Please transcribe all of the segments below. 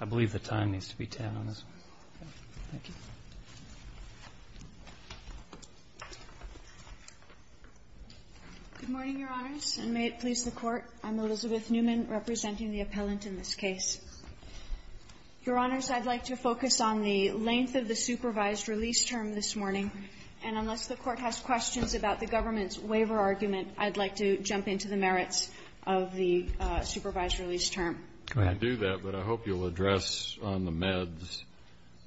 I believe the time needs to be 10 on this one. Thank you. MS. NEUMANN, REPRESENTING THE APPELLANT IN THIS CASE, THE SUPREME COURT Good morning, Your Honors, and may it please the Court. I'm Elizabeth Neumann, representing the appellant in this case. Your Honors, I'd like to focus on the length of the supervised release term this morning. And unless the Court has questions about the government's waiver argument, I'd like to jump into the merits of the supervised release term. Go ahead. I can do that, but I hope you'll address on the meds.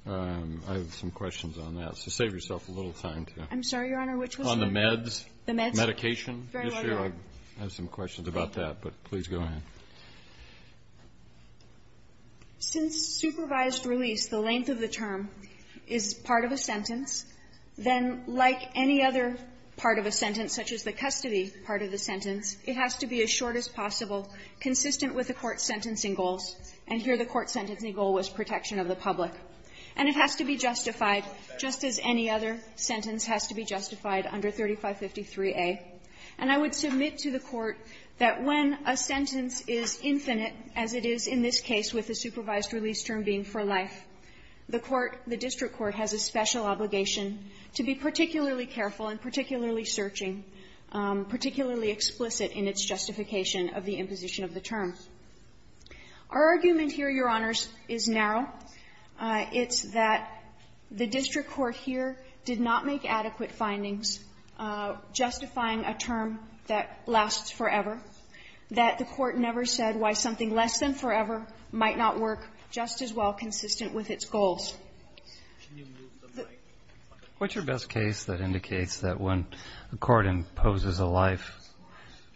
I have some questions on that. So save yourself a little time to do that. I'm sorry, Your Honor, which was it? On the meds. The meds. Medication issue. I have some questions about that, but please go ahead. Since supervised release, the length of the term, is part of a sentence, then like any other part of a sentence, such as the custody part of the sentence, it has to be as short as possible, consistent with the Court's sentencing goals. And here the Court's sentencing goal was protection of the public. And it has to be justified, just as any other sentence has to be justified under 3553A. And I would submit to the Court that when a sentence is infinite, as it is in this case with the supervised release term being for life, the Court, the district court has a special obligation to be particularly careful and particularly searching, particularly explicit in its justification of the imposition of the term. Our argument here, Your Honors, is narrow. It's that the district court here did not make adequate findings justifying a term that lasts forever, that the Court never said why something less than forever might not work just as well consistent with its goals. What's your best case that indicates that when the Court imposes a life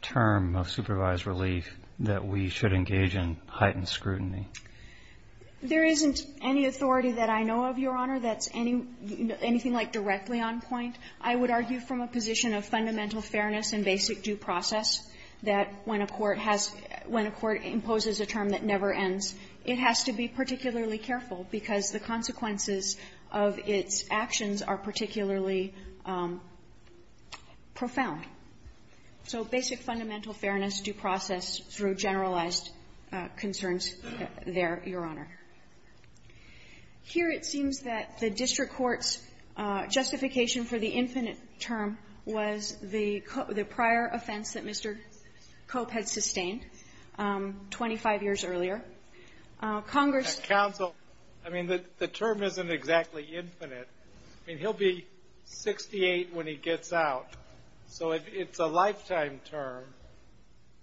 term of supervised relief that we should engage in heightened scrutiny? There isn't any authority that I know of, Your Honor, that's anything like directly on point. I would argue from a position of fundamental fairness and basic due process that when a court has – when a court imposes a term that never ends, it has to be particularly careful because the consequences of its actions are particularly profound. So basic fundamental fairness, due process through generalized concerns there, Your Honor. Here it seems that the district court's justification for the infinite term was the prior offense that Mr. Cope had sustained 25 years earlier. Congress – I mean, the term isn't exactly infinite. I mean, he'll be 68 when he gets out, so it's a lifetime term.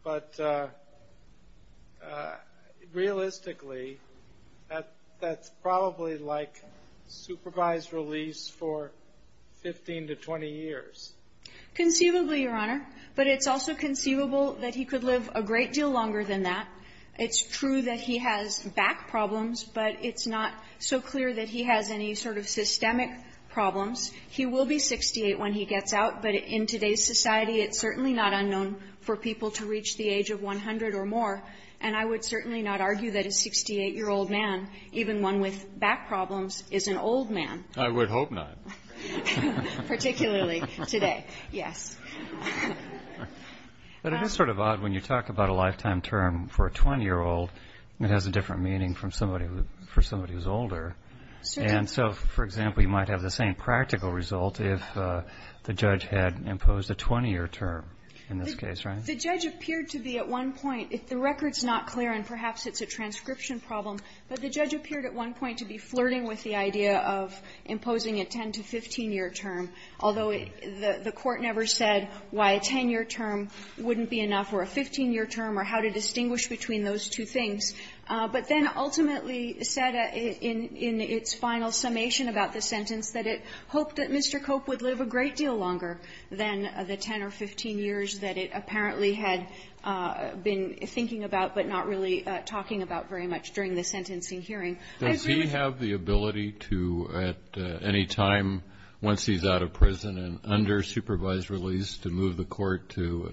But realistically, that's probably like supervised release for 15 to 20 years. Conceivably, Your Honor. But it's also conceivable that he could live a great deal longer than that. It's true that he has back problems, but it's not so clear that he has any sort of systemic problems. He will be 68 when he gets out, but in today's society, it's certainly not unknown for people to reach the age of 100 or more. And I would certainly not argue that a 68-year-old man, even one with back problems, is an old man. I would hope not. Particularly today, yes. But it is sort of odd when you talk about a lifetime term for a 20-year-old that has a different meaning for somebody who's older. And so, for example, you might have the same practical result if the judge had imposed a 20-year term in this case, right? The judge appeared to be at one point – the record's not clear, and perhaps it's a transcription problem, but the judge appeared at one point to be flirting with the idea of imposing a 10- to 15-year term. Although the Court never said why a 10-year term wouldn't be enough or a 15-year term or how to distinguish between those two things, but then ultimately said in its final summation about the sentence that it hoped that Mr. Cope would live a great deal longer than the 10 or 15 years that it apparently had been thinking about but not really talking about very much during the sentencing hearing. I agree with you. Does he have the ability to, at any time once he's out of prison and under supervised release, to move the Court to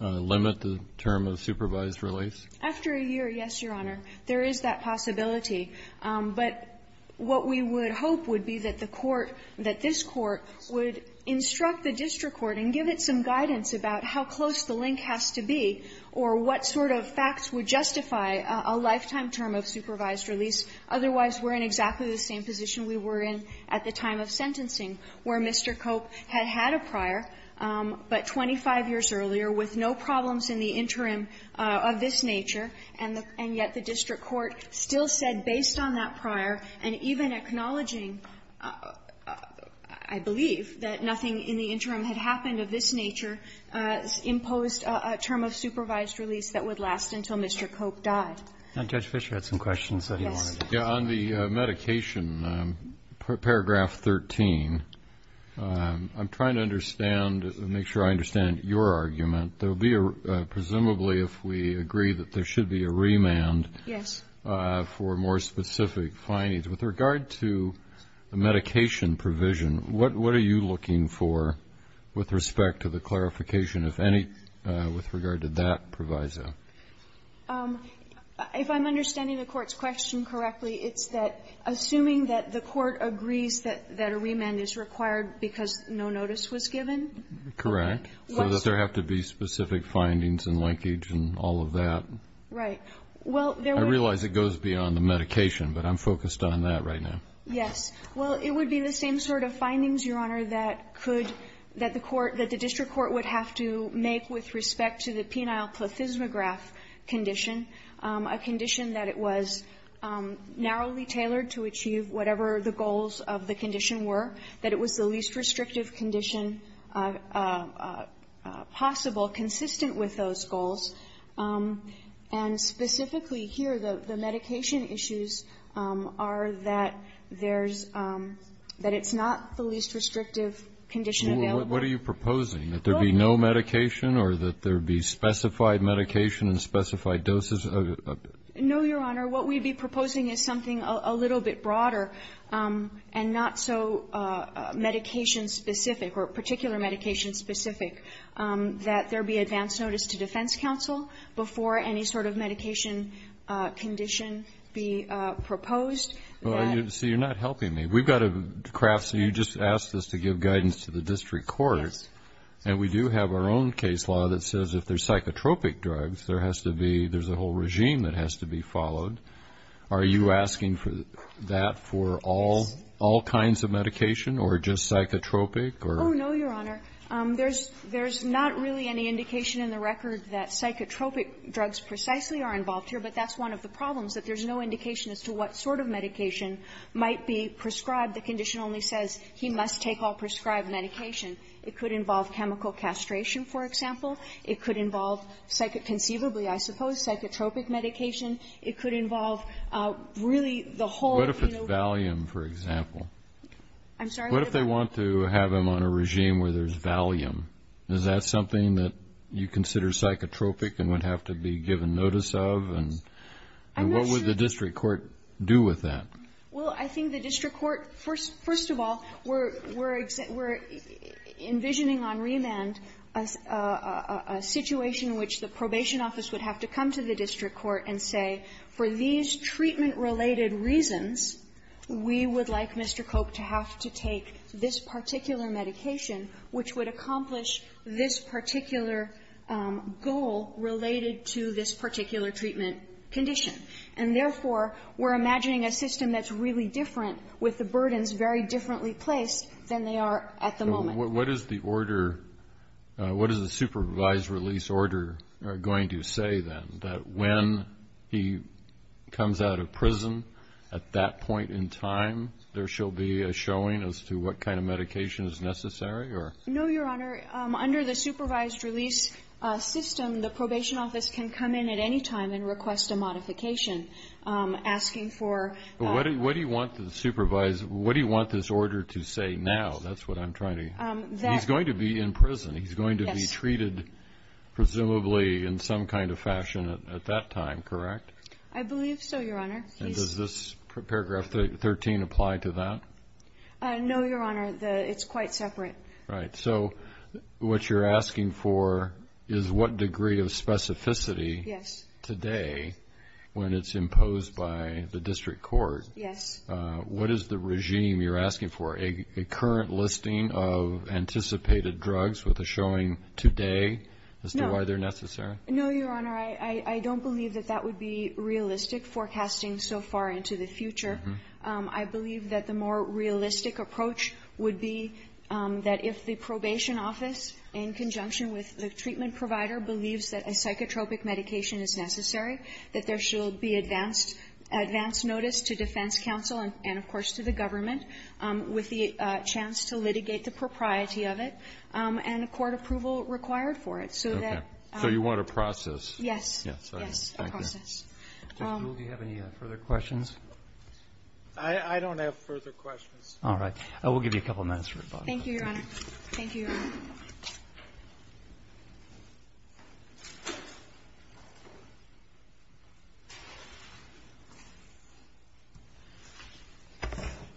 limit the term of supervised release? After a year, yes, Your Honor. There is that possibility. But what we would hope would be that the Court, that this Court, would instruct the district court and give it some guidance about how close the link has to be or what sort of facts would justify a lifetime term of supervised release. Otherwise, we're in exactly the same position we were in at the time of sentencing, where Mr. Cope had had a prior, but 25 years earlier, with no problems in the interim of this nature, and yet the district court still said, based on that prior and even acknowledging, I believe, that nothing in the interim had happened of this nature, imposed a term of supervised release that would last until Mr. Cope died. And Judge Fischer had some questions that he wanted to ask. Yes. On the medication, paragraph 13, I'm trying to understand, make sure I understand your argument. There will be a, presumably, if we agree, that there should be a remand for more specific findings. With regard to the medication provision, what are you looking for with respect to the clarification, if any, with regard to that proviso? If I'm understanding the Court's question correctly, it's that, assuming that the Court agrees that a remand is required because no notice was given? Correct. So that there have to be specific findings and linkage and all of that. Right. Well, there would be the same sort of findings, Your Honor, that could the court that the district court would have to make with respect to the penile plethysmograph condition, a condition that it was narrowly tailored to achieve whatever the goals of the condition were, that it was the least restrictive condition possible, consistent with those goals. And specifically here, the medication issues are that there's that it's not the least restrictive condition available. What are you proposing, that there be no medication or that there be specified medication and specified doses? No, Your Honor. What we'd be proposing is something a little bit broader and not so medication-specific or particular medication-specific, that there be advance notice to defense counsel before any sort of medication condition be proposed. Well, you see, you're not helping me. We've got a craft. You just asked us to give guidance to the district court, and we do have our own case law that says if there's psychotropic drugs, there has to be, there's a whole regime that has to be followed. Are you asking for that for all kinds of medication or just psychotropic or? Oh, no, Your Honor. There's not really any indication in the record that psychotropic drugs precisely are involved here, but that's one of the problems, that there's no indication as to what sort of medication might be prescribed. The condition only says he must take all prescribed medication. It could involve chemical castration, for example. It could involve, conceivably, I suppose, psychotropic medication. It could involve really the whole, you know. What if it's Valium, for example? I'm sorry? What if they want to have him on a regime where there's Valium? Is that something that you consider psychotropic and would have to be given notice of? And what would the district court do with that? Well, I think the district court, first of all, we're envisioning on remand a situation in which the probation office would have to come to the district court and say, for these treatment-related reasons, we would like Mr. Koch to have to take this particular medication, which would accomplish this particular goal related to this particular treatment condition. And, therefore, we're imagining a system that's really different with the burdens very differently placed than they are at the moment. What is the order – what is the supervised release order going to say, then, that when he comes out of prison, at that point in time, there shall be a showing as to what kind of medication is necessary, or? No, Your Honor. Under the supervised release system, the probation office can come in at any time and request a modification, asking for – But what do you want the supervised – what do you want this order to say now? That's what I'm trying to – he's going to be in prison. He's going to be treated, presumably, in some kind of fashion at that time, correct? I believe so, Your Honor. And does this paragraph 13 apply to that? No, Your Honor. It's quite separate. Right. So, what you're asking for is what degree of specificity today, when it's imposed by the district court, what is the regime you're asking for? A current listing of anticipated drugs with a showing today, as to why they're necessary? No, Your Honor. I don't believe that that would be realistic, forecasting so far into the future. I believe that the more realistic approach would be that if the probation office, in conjunction with the treatment provider, believes that a psychotropic medication is necessary, that there shall be advanced notice to defense counsel and, of course, to the government, with the chance to litigate the propriety of it, and a court approval required for it, so that – So you want a process. Yes. Yes. Yes. A process. Ms. Gould, do you have any further questions? I don't have further questions. All right. We'll give you a couple minutes for your final comment. Thank you, Your Honor. Thank you, Your Honor.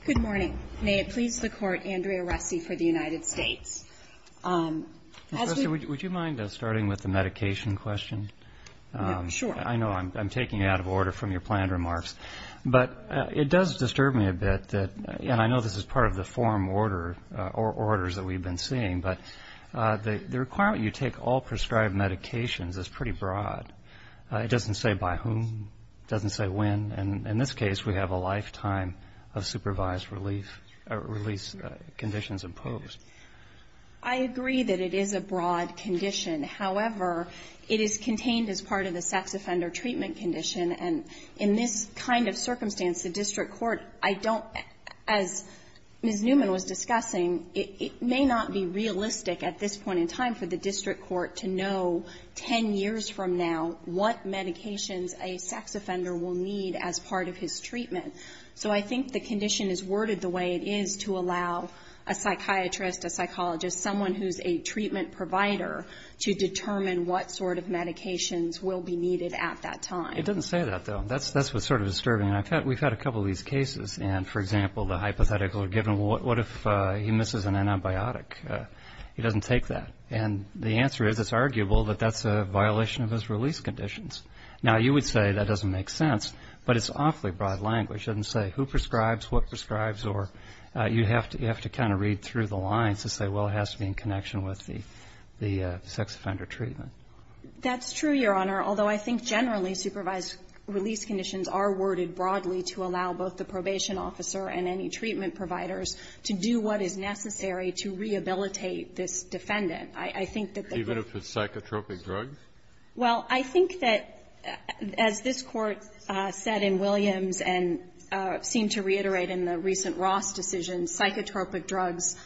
Good morning. May it please the Court, Andrea Ressi for the United States. Professor, would you mind starting with the medication question? Sure. I know I'm taking it out of order from your planned remarks, but it does disturb me a bit that – and I know this is part of the forum order – or orders that we've been seeing, but the requirement you take all prescribed medications is pretty broad. It doesn't say by whom, it doesn't say when, and in this case, we have a lifetime of supervised relief – release conditions imposed. I agree that it is a broad condition. However, it is contained as part of the sex offender treatment condition, and in this kind of circumstance, the district court – I don't – as Ms. Newman was discussing, it may not be realistic at this point in time for the district court to know 10 years from now what medications a sex offender will need as part of his treatment. So I think the condition is worded the way it is to allow a psychiatrist, a psychiatrist, to determine what sort of medications will be needed at that time. It doesn't say that, though. That's what's sort of disturbing. We've had a couple of these cases, and, for example, the hypothetical given, what if he misses an antibiotic, he doesn't take that. And the answer is it's arguable that that's a violation of his release conditions. Now, you would say that doesn't make sense, but it's awfully broad language. It doesn't say who prescribes, what prescribes, or you have to kind of read through the lines to say, well, it has to be in connection with the sex offender treatment. That's true, Your Honor, although I think generally supervised release conditions are worded broadly to allow both the probation officer and any treatment providers to do what is necessary to rehabilitate this defendant. I think that the case of the psychotropic drugs? Well, I think that as this Court said in Williams and seemed to reiterate in the recent Ross decision, psychotropic drugs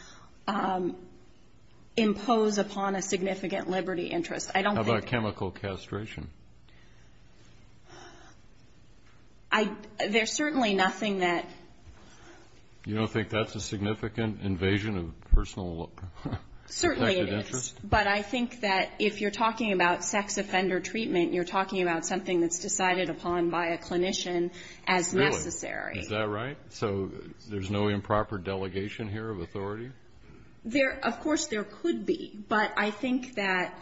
impose upon a significant liberty interest. I don't think... How about chemical castration? There's certainly nothing that... You don't think that's a significant invasion of personal... Certainly it is, but I think that if you're talking about sex offender treatment, you're talking about something that's decided upon by a clinician as necessary. Really? Is that right? So there's no improper delegation here of authority? Of course there could be, but I think that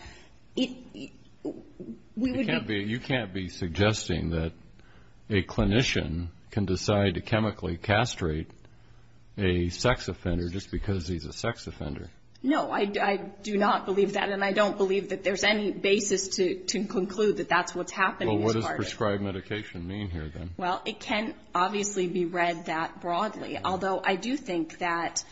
we would be... You can't be suggesting that a clinician can decide to chemically castrate a sex offender just because he's a sex offender. No, I do not believe that, and I don't believe that there's any basis to conclude that that's what's happening as part of... Well, what does prescribed medication mean here, then? Well, it can obviously be read that broadly, although I do think that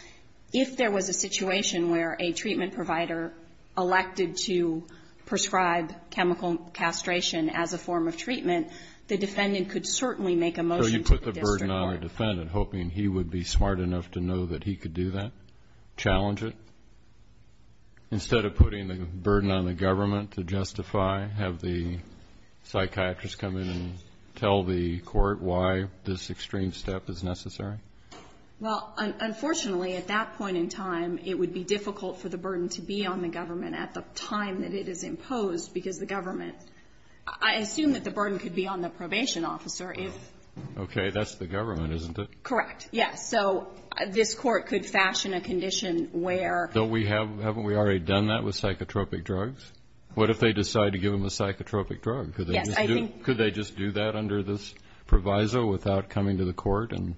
if there was a situation where a treatment provider elected to prescribe chemical castration as a form of treatment, the defendant could certainly make a motion to the district court. So you put the burden on a defendant, hoping he would be smart enough to know that he could do that, challenge it, instead of putting the burden on the government to justify, have the psychiatrist come in and tell the court why this extreme step is necessary? Well, unfortunately, at that point in time, it would be difficult for the burden to be on the government at the time that it is imposed, because the government... I assume that the burden could be on the probation officer if... Okay, that's the government, isn't it? Correct, yes. So this court could fashion a condition where... Haven't we already done that with psychotropic drugs? What if they decide to give him a psychotropic drug? Yes, I think... Could they just do that under this proviso without coming to the court and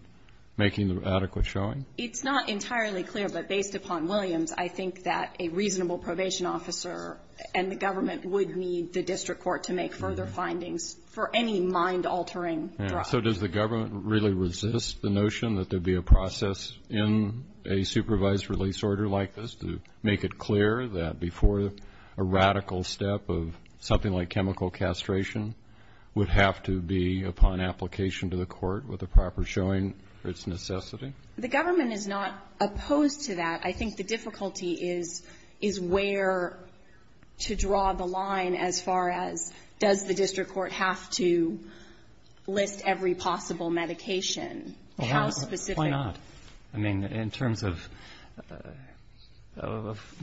making the adequate showing? It's not entirely clear, but based upon Williams, I think that a reasonable probation officer and the government would need the district court to make further findings for any mind-altering drug. So does the government really resist the notion that there'd be a process in a supervised release order like this to make it clear that before a radical step of something like chemical castration would have to be upon application to the court with a proper showing for its necessity? The government is not opposed to that. I think the difficulty is where to draw the line as far as, does the district court have to list every possible medication? How specific... Why not? I mean, in terms of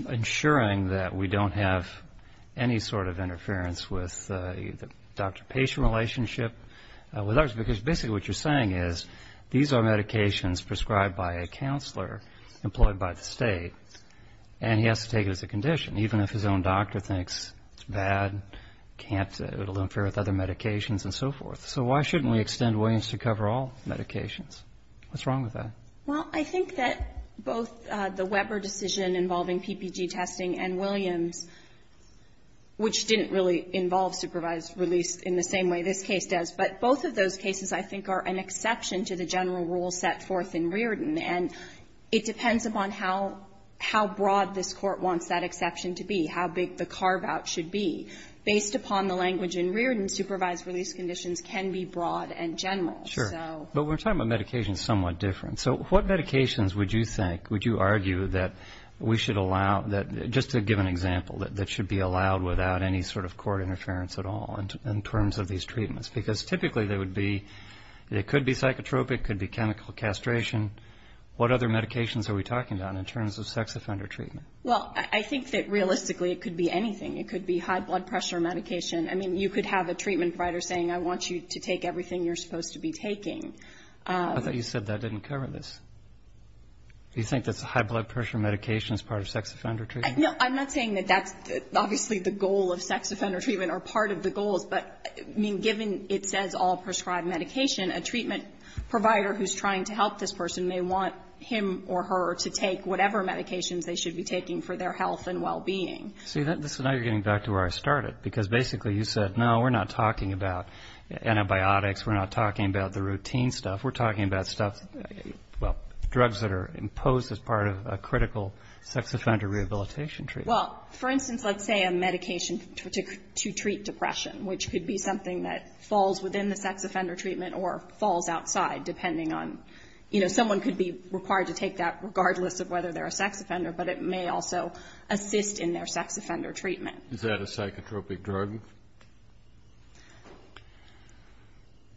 ensuring that we don't have any sort of interference with the doctor-patient relationship with us, because basically what you're saying is, these are medications prescribed by a counselor employed by the state, and he has to take it as a condition, even if his own doctor thinks it's bad, can't, it'll interfere with other medications, and so forth. So why shouldn't we extend Williams to cover all medications? What's wrong with that? Well, I think that both the Weber decision involving PPG testing and Williams, which didn't really involve supervised release in the same way this case does, but both of those cases I think are an exception to the general rule set forth in Reardon. And it depends upon how broad this Court wants that exception to be, how big the carve-out should be. Based upon the language in Reardon, supervised release conditions can be broad and general. Sure. But we're talking about medications somewhat different. So what medications would you think, would you argue, that we should allow, just to give an example, that should be allowed without any sort of court interference at all in terms of these treatments? Because typically they would be, they could be psychotropic, could be chemical castration. What other medications are we talking about in terms of sex offender treatment? Well, I think that realistically it could be anything. It could be high blood pressure medication. I mean, you could have a treatment provider saying, I want you to take everything you're supposed to be taking. I thought you said that didn't cover this. Do you think that's a high blood pressure medication as part of sex offender treatment? No. I'm not saying that that's obviously the goal of sex offender treatment or part of the goals. But, I mean, given it says all prescribed medication, a treatment provider who's trying to help this person may want him or her to take whatever medications they should be taking for their health and well-being. See, this is now you're getting back to where I started, because basically you said, no, we're not talking about antibiotics. We're not talking about the routine stuff. We're talking about stuff, well, drugs that are imposed as part of a critical sex offender rehabilitation treatment. Well, for instance, let's say a medication to treat depression, which could be something that falls within the sex offender treatment or falls outside, depending on, you know, someone could be required to take that regardless of whether they're a sex offender, but it may also assist in their sex offender treatment. Is that a psychotropic drug?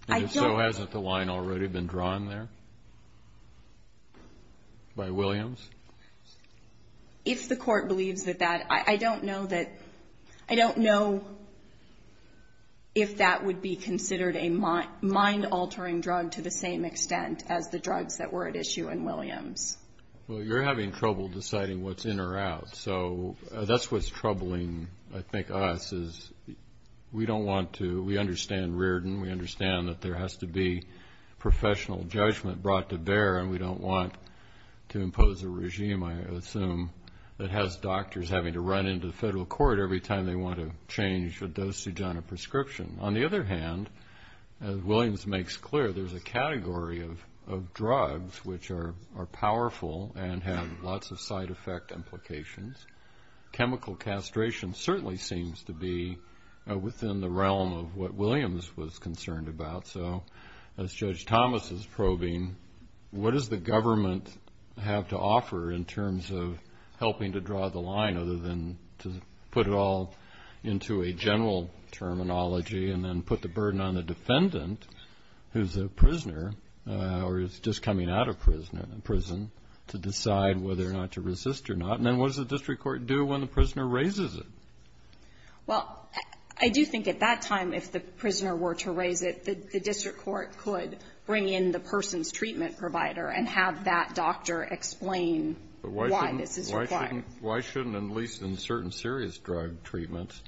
And so hasn't the line already been drawn there by Williams? If the court believes that that, I don't know that, I don't know if that would be considered a mind-altering drug to the same extent as the drugs that were at issue in Williams. Well, you're having trouble deciding what's in or out. So that's what's troubling, I think, us, is we don't want to, we understand Reardon, we understand that there has to be professional judgment brought to bear, and we don't want to impose a regime, I assume, that has doctors having to run into the federal court every time they want to change a dosage on a prescription. On the other hand, as Williams makes clear, there's a category of drugs which are powerful and have lots of side effect implications. Chemical castration certainly seems to be within the realm of what Williams was concerned about. So as Judge Thomas is probing, what does the government have to offer in terms of helping to draw the line other than to put it all into a general terminology and then put the decision on whether or not to resist or not, and then what does the district court do when the prisoner raises it? Well, I do think at that time, if the prisoner were to raise it, the district court could bring in the person's treatment provider and have that doctor explain why this is required. Why shouldn't, at least in certain serious drug treatments,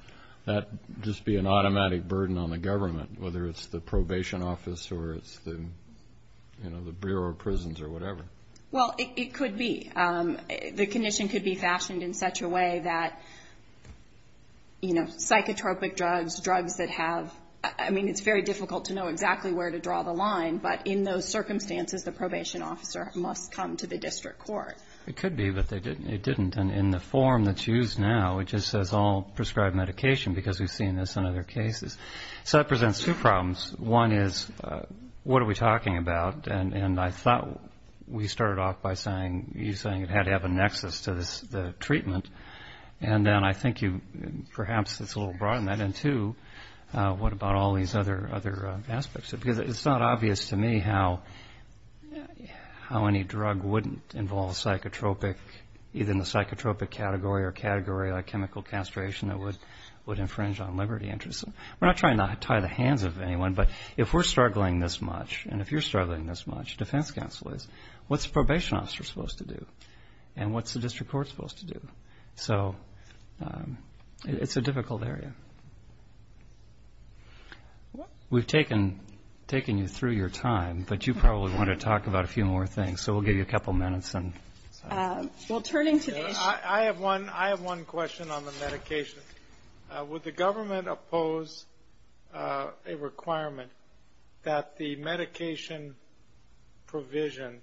that just be an automatic burden on the government, whether it's the probation office or it's the, you know, the Bureau of Prisons or whatever? Well, it could be. The condition could be fashioned in such a way that, you know, psychotropic drugs, drugs that have, I mean, it's very difficult to know exactly where to draw the line, but in those circumstances, the probation officer must come to the district court. It could be, but they didn't. It didn't. And in the form that's used now, it just says all prescribed medication because we've seen this in other cases. So that presents two problems. One is, what are we talking about? And I thought we started off by saying, you're saying it had to have a nexus to the treatment. And then I think you, perhaps, it's a little broad in that, and two, what about all these other aspects? Because it's not obvious to me how any drug wouldn't involve psychotropic, either in the psychotropic category or category like chemical castration that would infringe on liberty interests. We're not trying to tie the hands of anyone, but if we're struggling this much, and if you're struggling this much, defense counsel is, what's the probation officer supposed to do? And what's the district court supposed to do? So it's a difficult area. We've taken you through your time, but you probably want to talk about a few more things. So we'll give you a couple of minutes and we'll turn into this. I have one question on the medication. Would the government oppose a requirement that the medication provision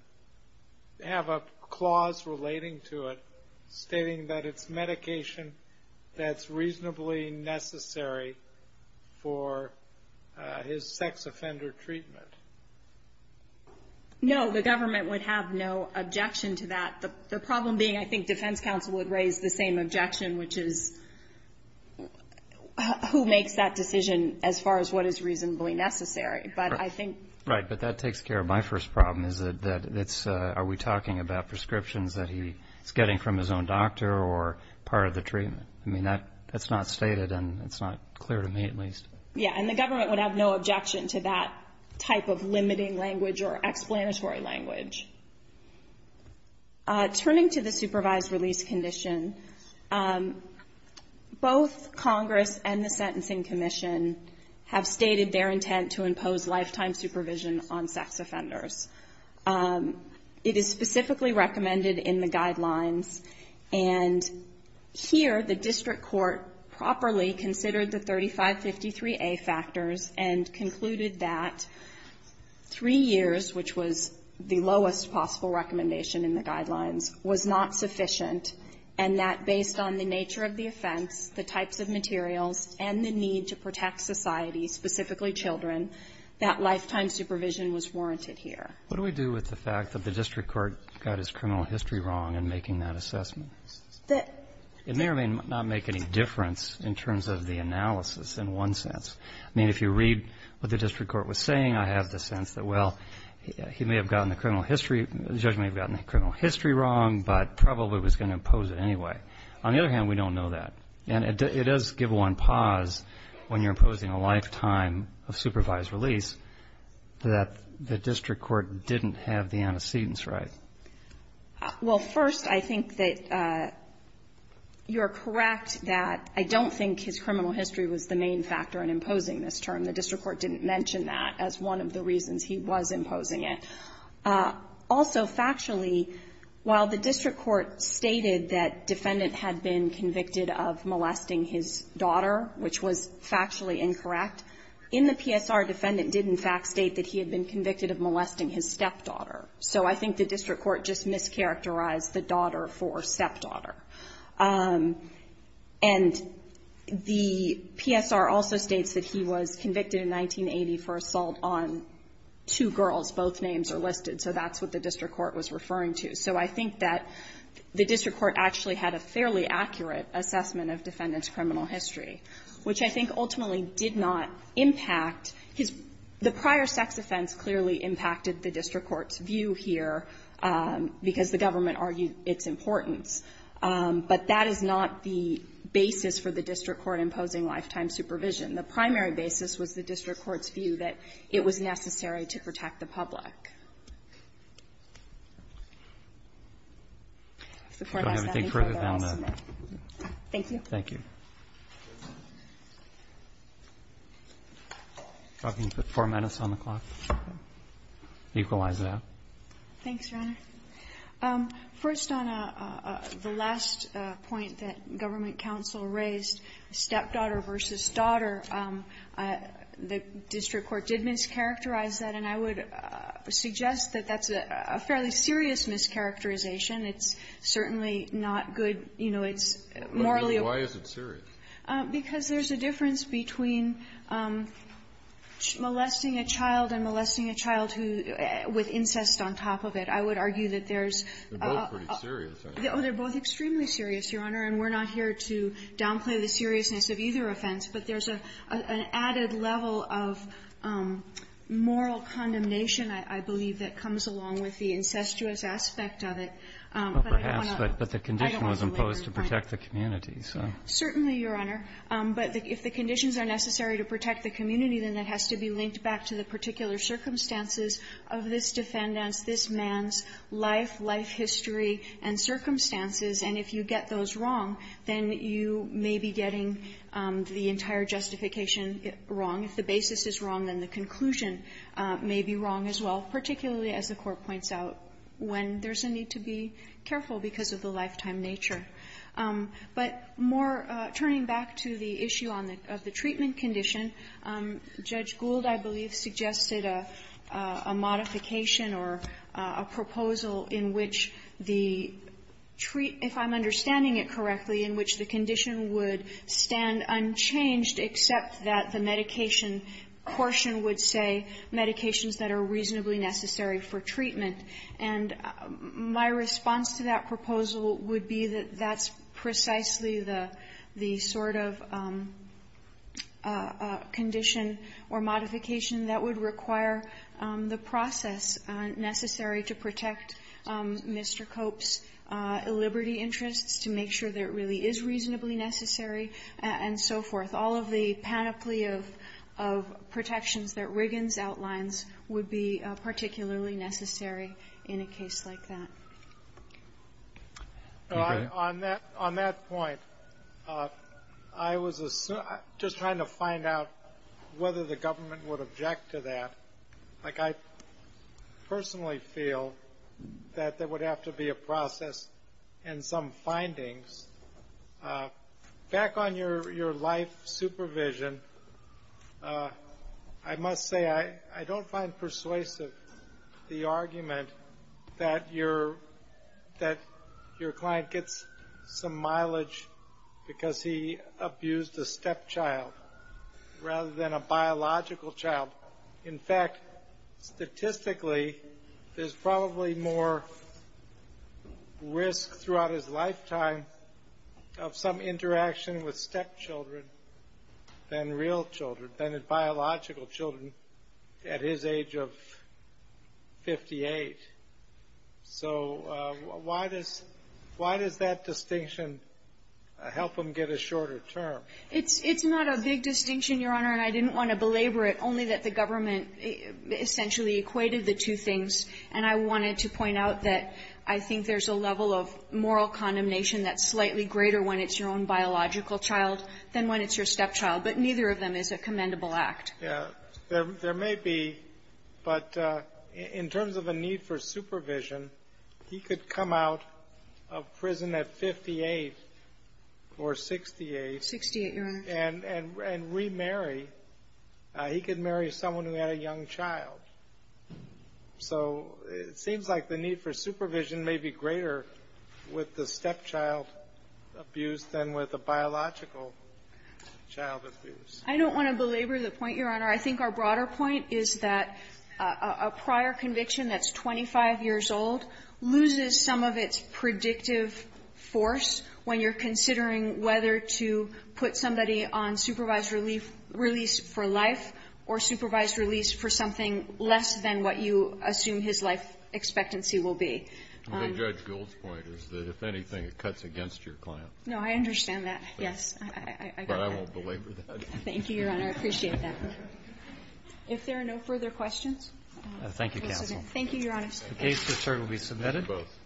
have a clause relating to it stating that it's medication that's reasonably necessary for his sex offender treatment? No, the government would have no objection to that. The problem being, I think defense counsel would raise the same objection, which is, who makes that decision as far as what is reasonably necessary? But I think... Right. But that takes care of my first problem, is that it's, are we talking about prescriptions that he's getting from his own doctor or part of the treatment? I mean, that's not stated and it's not clear to me, at least. Yeah. And the government would have no objection to that type of limiting language or explanatory language. Turning to the supervised release condition, both Congress and the Sentencing Commission have stated their intent to impose lifetime supervision on sex offenders. It is specifically recommended in the guidelines and here, the district court properly considered the 3553A factors and concluded that 3 years, which was the lowest possible recommendation in the guidelines, was not sufficient and that based on the nature of the offense, the types of materials and the need to protect society, specifically children, that lifetime supervision was warranted here. What do we do with the fact that the district court got his criminal history wrong in making that assessment? It may or may not make any difference in terms of the analysis in one sense. I mean, if you read what the district court was saying, I have the sense that, well, he may have gotten the criminal history, the judge may have gotten the criminal history wrong, but probably was going to impose it anyway. On the other hand, we don't know that. And it does give one pause when you're imposing a lifetime of supervised release that the district court didn't have the antecedents right. Well, first, I think that you're correct that I don't think his criminal history was the main factor in imposing this term. The district court didn't mention that as one of the reasons he was imposing it. Also, factually, while the district court stated that defendant had been convicted of molesting his daughter, which was factually incorrect, in the PSR, defendant did in fact state that he had been convicted of molesting his stepdaughter. So I think the district court just mischaracterized the daughter for stepdaughter. And the PSR also states that he was convicted in 1980 for assault on two girls. Both names are listed. So that's what the district court was referring to. So I think that the district court actually had a fairly accurate assessment of defendant's criminal history, which I think ultimately did not impact his – the district court's view here, because the government argued its importance. But that is not the basis for the district court imposing lifetime supervision. The primary basis was the district court's view that it was necessary to protect the public. If the Court has that inquiry, they're all submitted. Thank you. Thank you. I think the four minutes on the clock equalize that. Thanks, Your Honor. First, on the last point that government counsel raised, stepdaughter versus daughter, the district court did mischaracterize that, and I would suggest that that's a fairly serious mischaracterization. It's certainly not good, you know, it's morally appropriate. Why is it serious? Because there's a difference between molesting a child and molesting a child who – with incest on top of it. I would argue that there's – They're both pretty serious, aren't they? Oh, they're both extremely serious, Your Honor, and we're not here to downplay the seriousness of either offense, but there's an added level of moral condemnation, I believe, that comes along with the incestuous aspect of it. But I want to – Well, perhaps, but the condition was imposed to protect the community. Certainly, Your Honor. But if the conditions are necessary to protect the community, then it has to be linked back to the particular circumstances of this defendant's, this man's, life, life history and circumstances, and if you get those wrong, then you may be getting the entire justification wrong. If the basis is wrong, then the conclusion may be wrong as well, particularly as the Court points out, when there's a need to be careful because of the lifetime nature. But more – turning back to the issue on the – of the treatment condition, Judge Gould, I believe, suggested a modification or a proposal in which the – if I'm understanding it correctly, in which the condition would stand unchanged except that the medication portion would say medications that are reasonably necessary for treatment. And my response to that proposal would be that that's precisely the sort of condition or modification that would require the process necessary to protect Mr. Cope's liberty interests, to make sure that it really is reasonably necessary, and so forth. All of the panoply of protections that Riggins outlines would be particularly necessary in a case like that. Okay. On that – on that point, I was just trying to find out whether the government would object to that. Like, I personally feel that there would have to be a process and some findings. Back on your – your life supervision, I must say I don't find persuasive the argument that your – that your client gets some mileage because he abused a stepchild rather than a biological child. In fact, statistically, there's probably more risk throughout his lifetime of some interaction with stepchildren than real children, than biological children at his age of 58. So why does – why does that distinction help him get a shorter term? It's not a big distinction, Your Honor, and I didn't want to belabor it, only that the government essentially equated the two things. And I wanted to point out that I think there's a level of moral condemnation that's slightly greater when it's your own biological child than when it's your stepchild. But neither of them is a commendable act. Yeah. There may be, but in terms of a need for supervision, he could come out of prison at 58 or 68. Sixty-eight, Your Honor. And remarry. He could marry someone who had a young child. So it seems like the need for supervision may be greater with the stepchild abuse than with a biological child abuse. I don't want to belabor the point, Your Honor. I think our broader point is that a prior conviction that's 25 years old loses some of its predictive force when you're considering whether to put somebody on supervised relief – release for life or supervised release for something less than what you assume his life expectancy will be. The Judge Gould's point is that, if anything, it cuts against your client. No, I understand that, yes. But I won't belabor that. Thank you, Your Honor. I appreciate that. If there are no further questions, we'll submit. Thank you, counsel. Thank you, Your Honor. The case is certainly submitted. Both.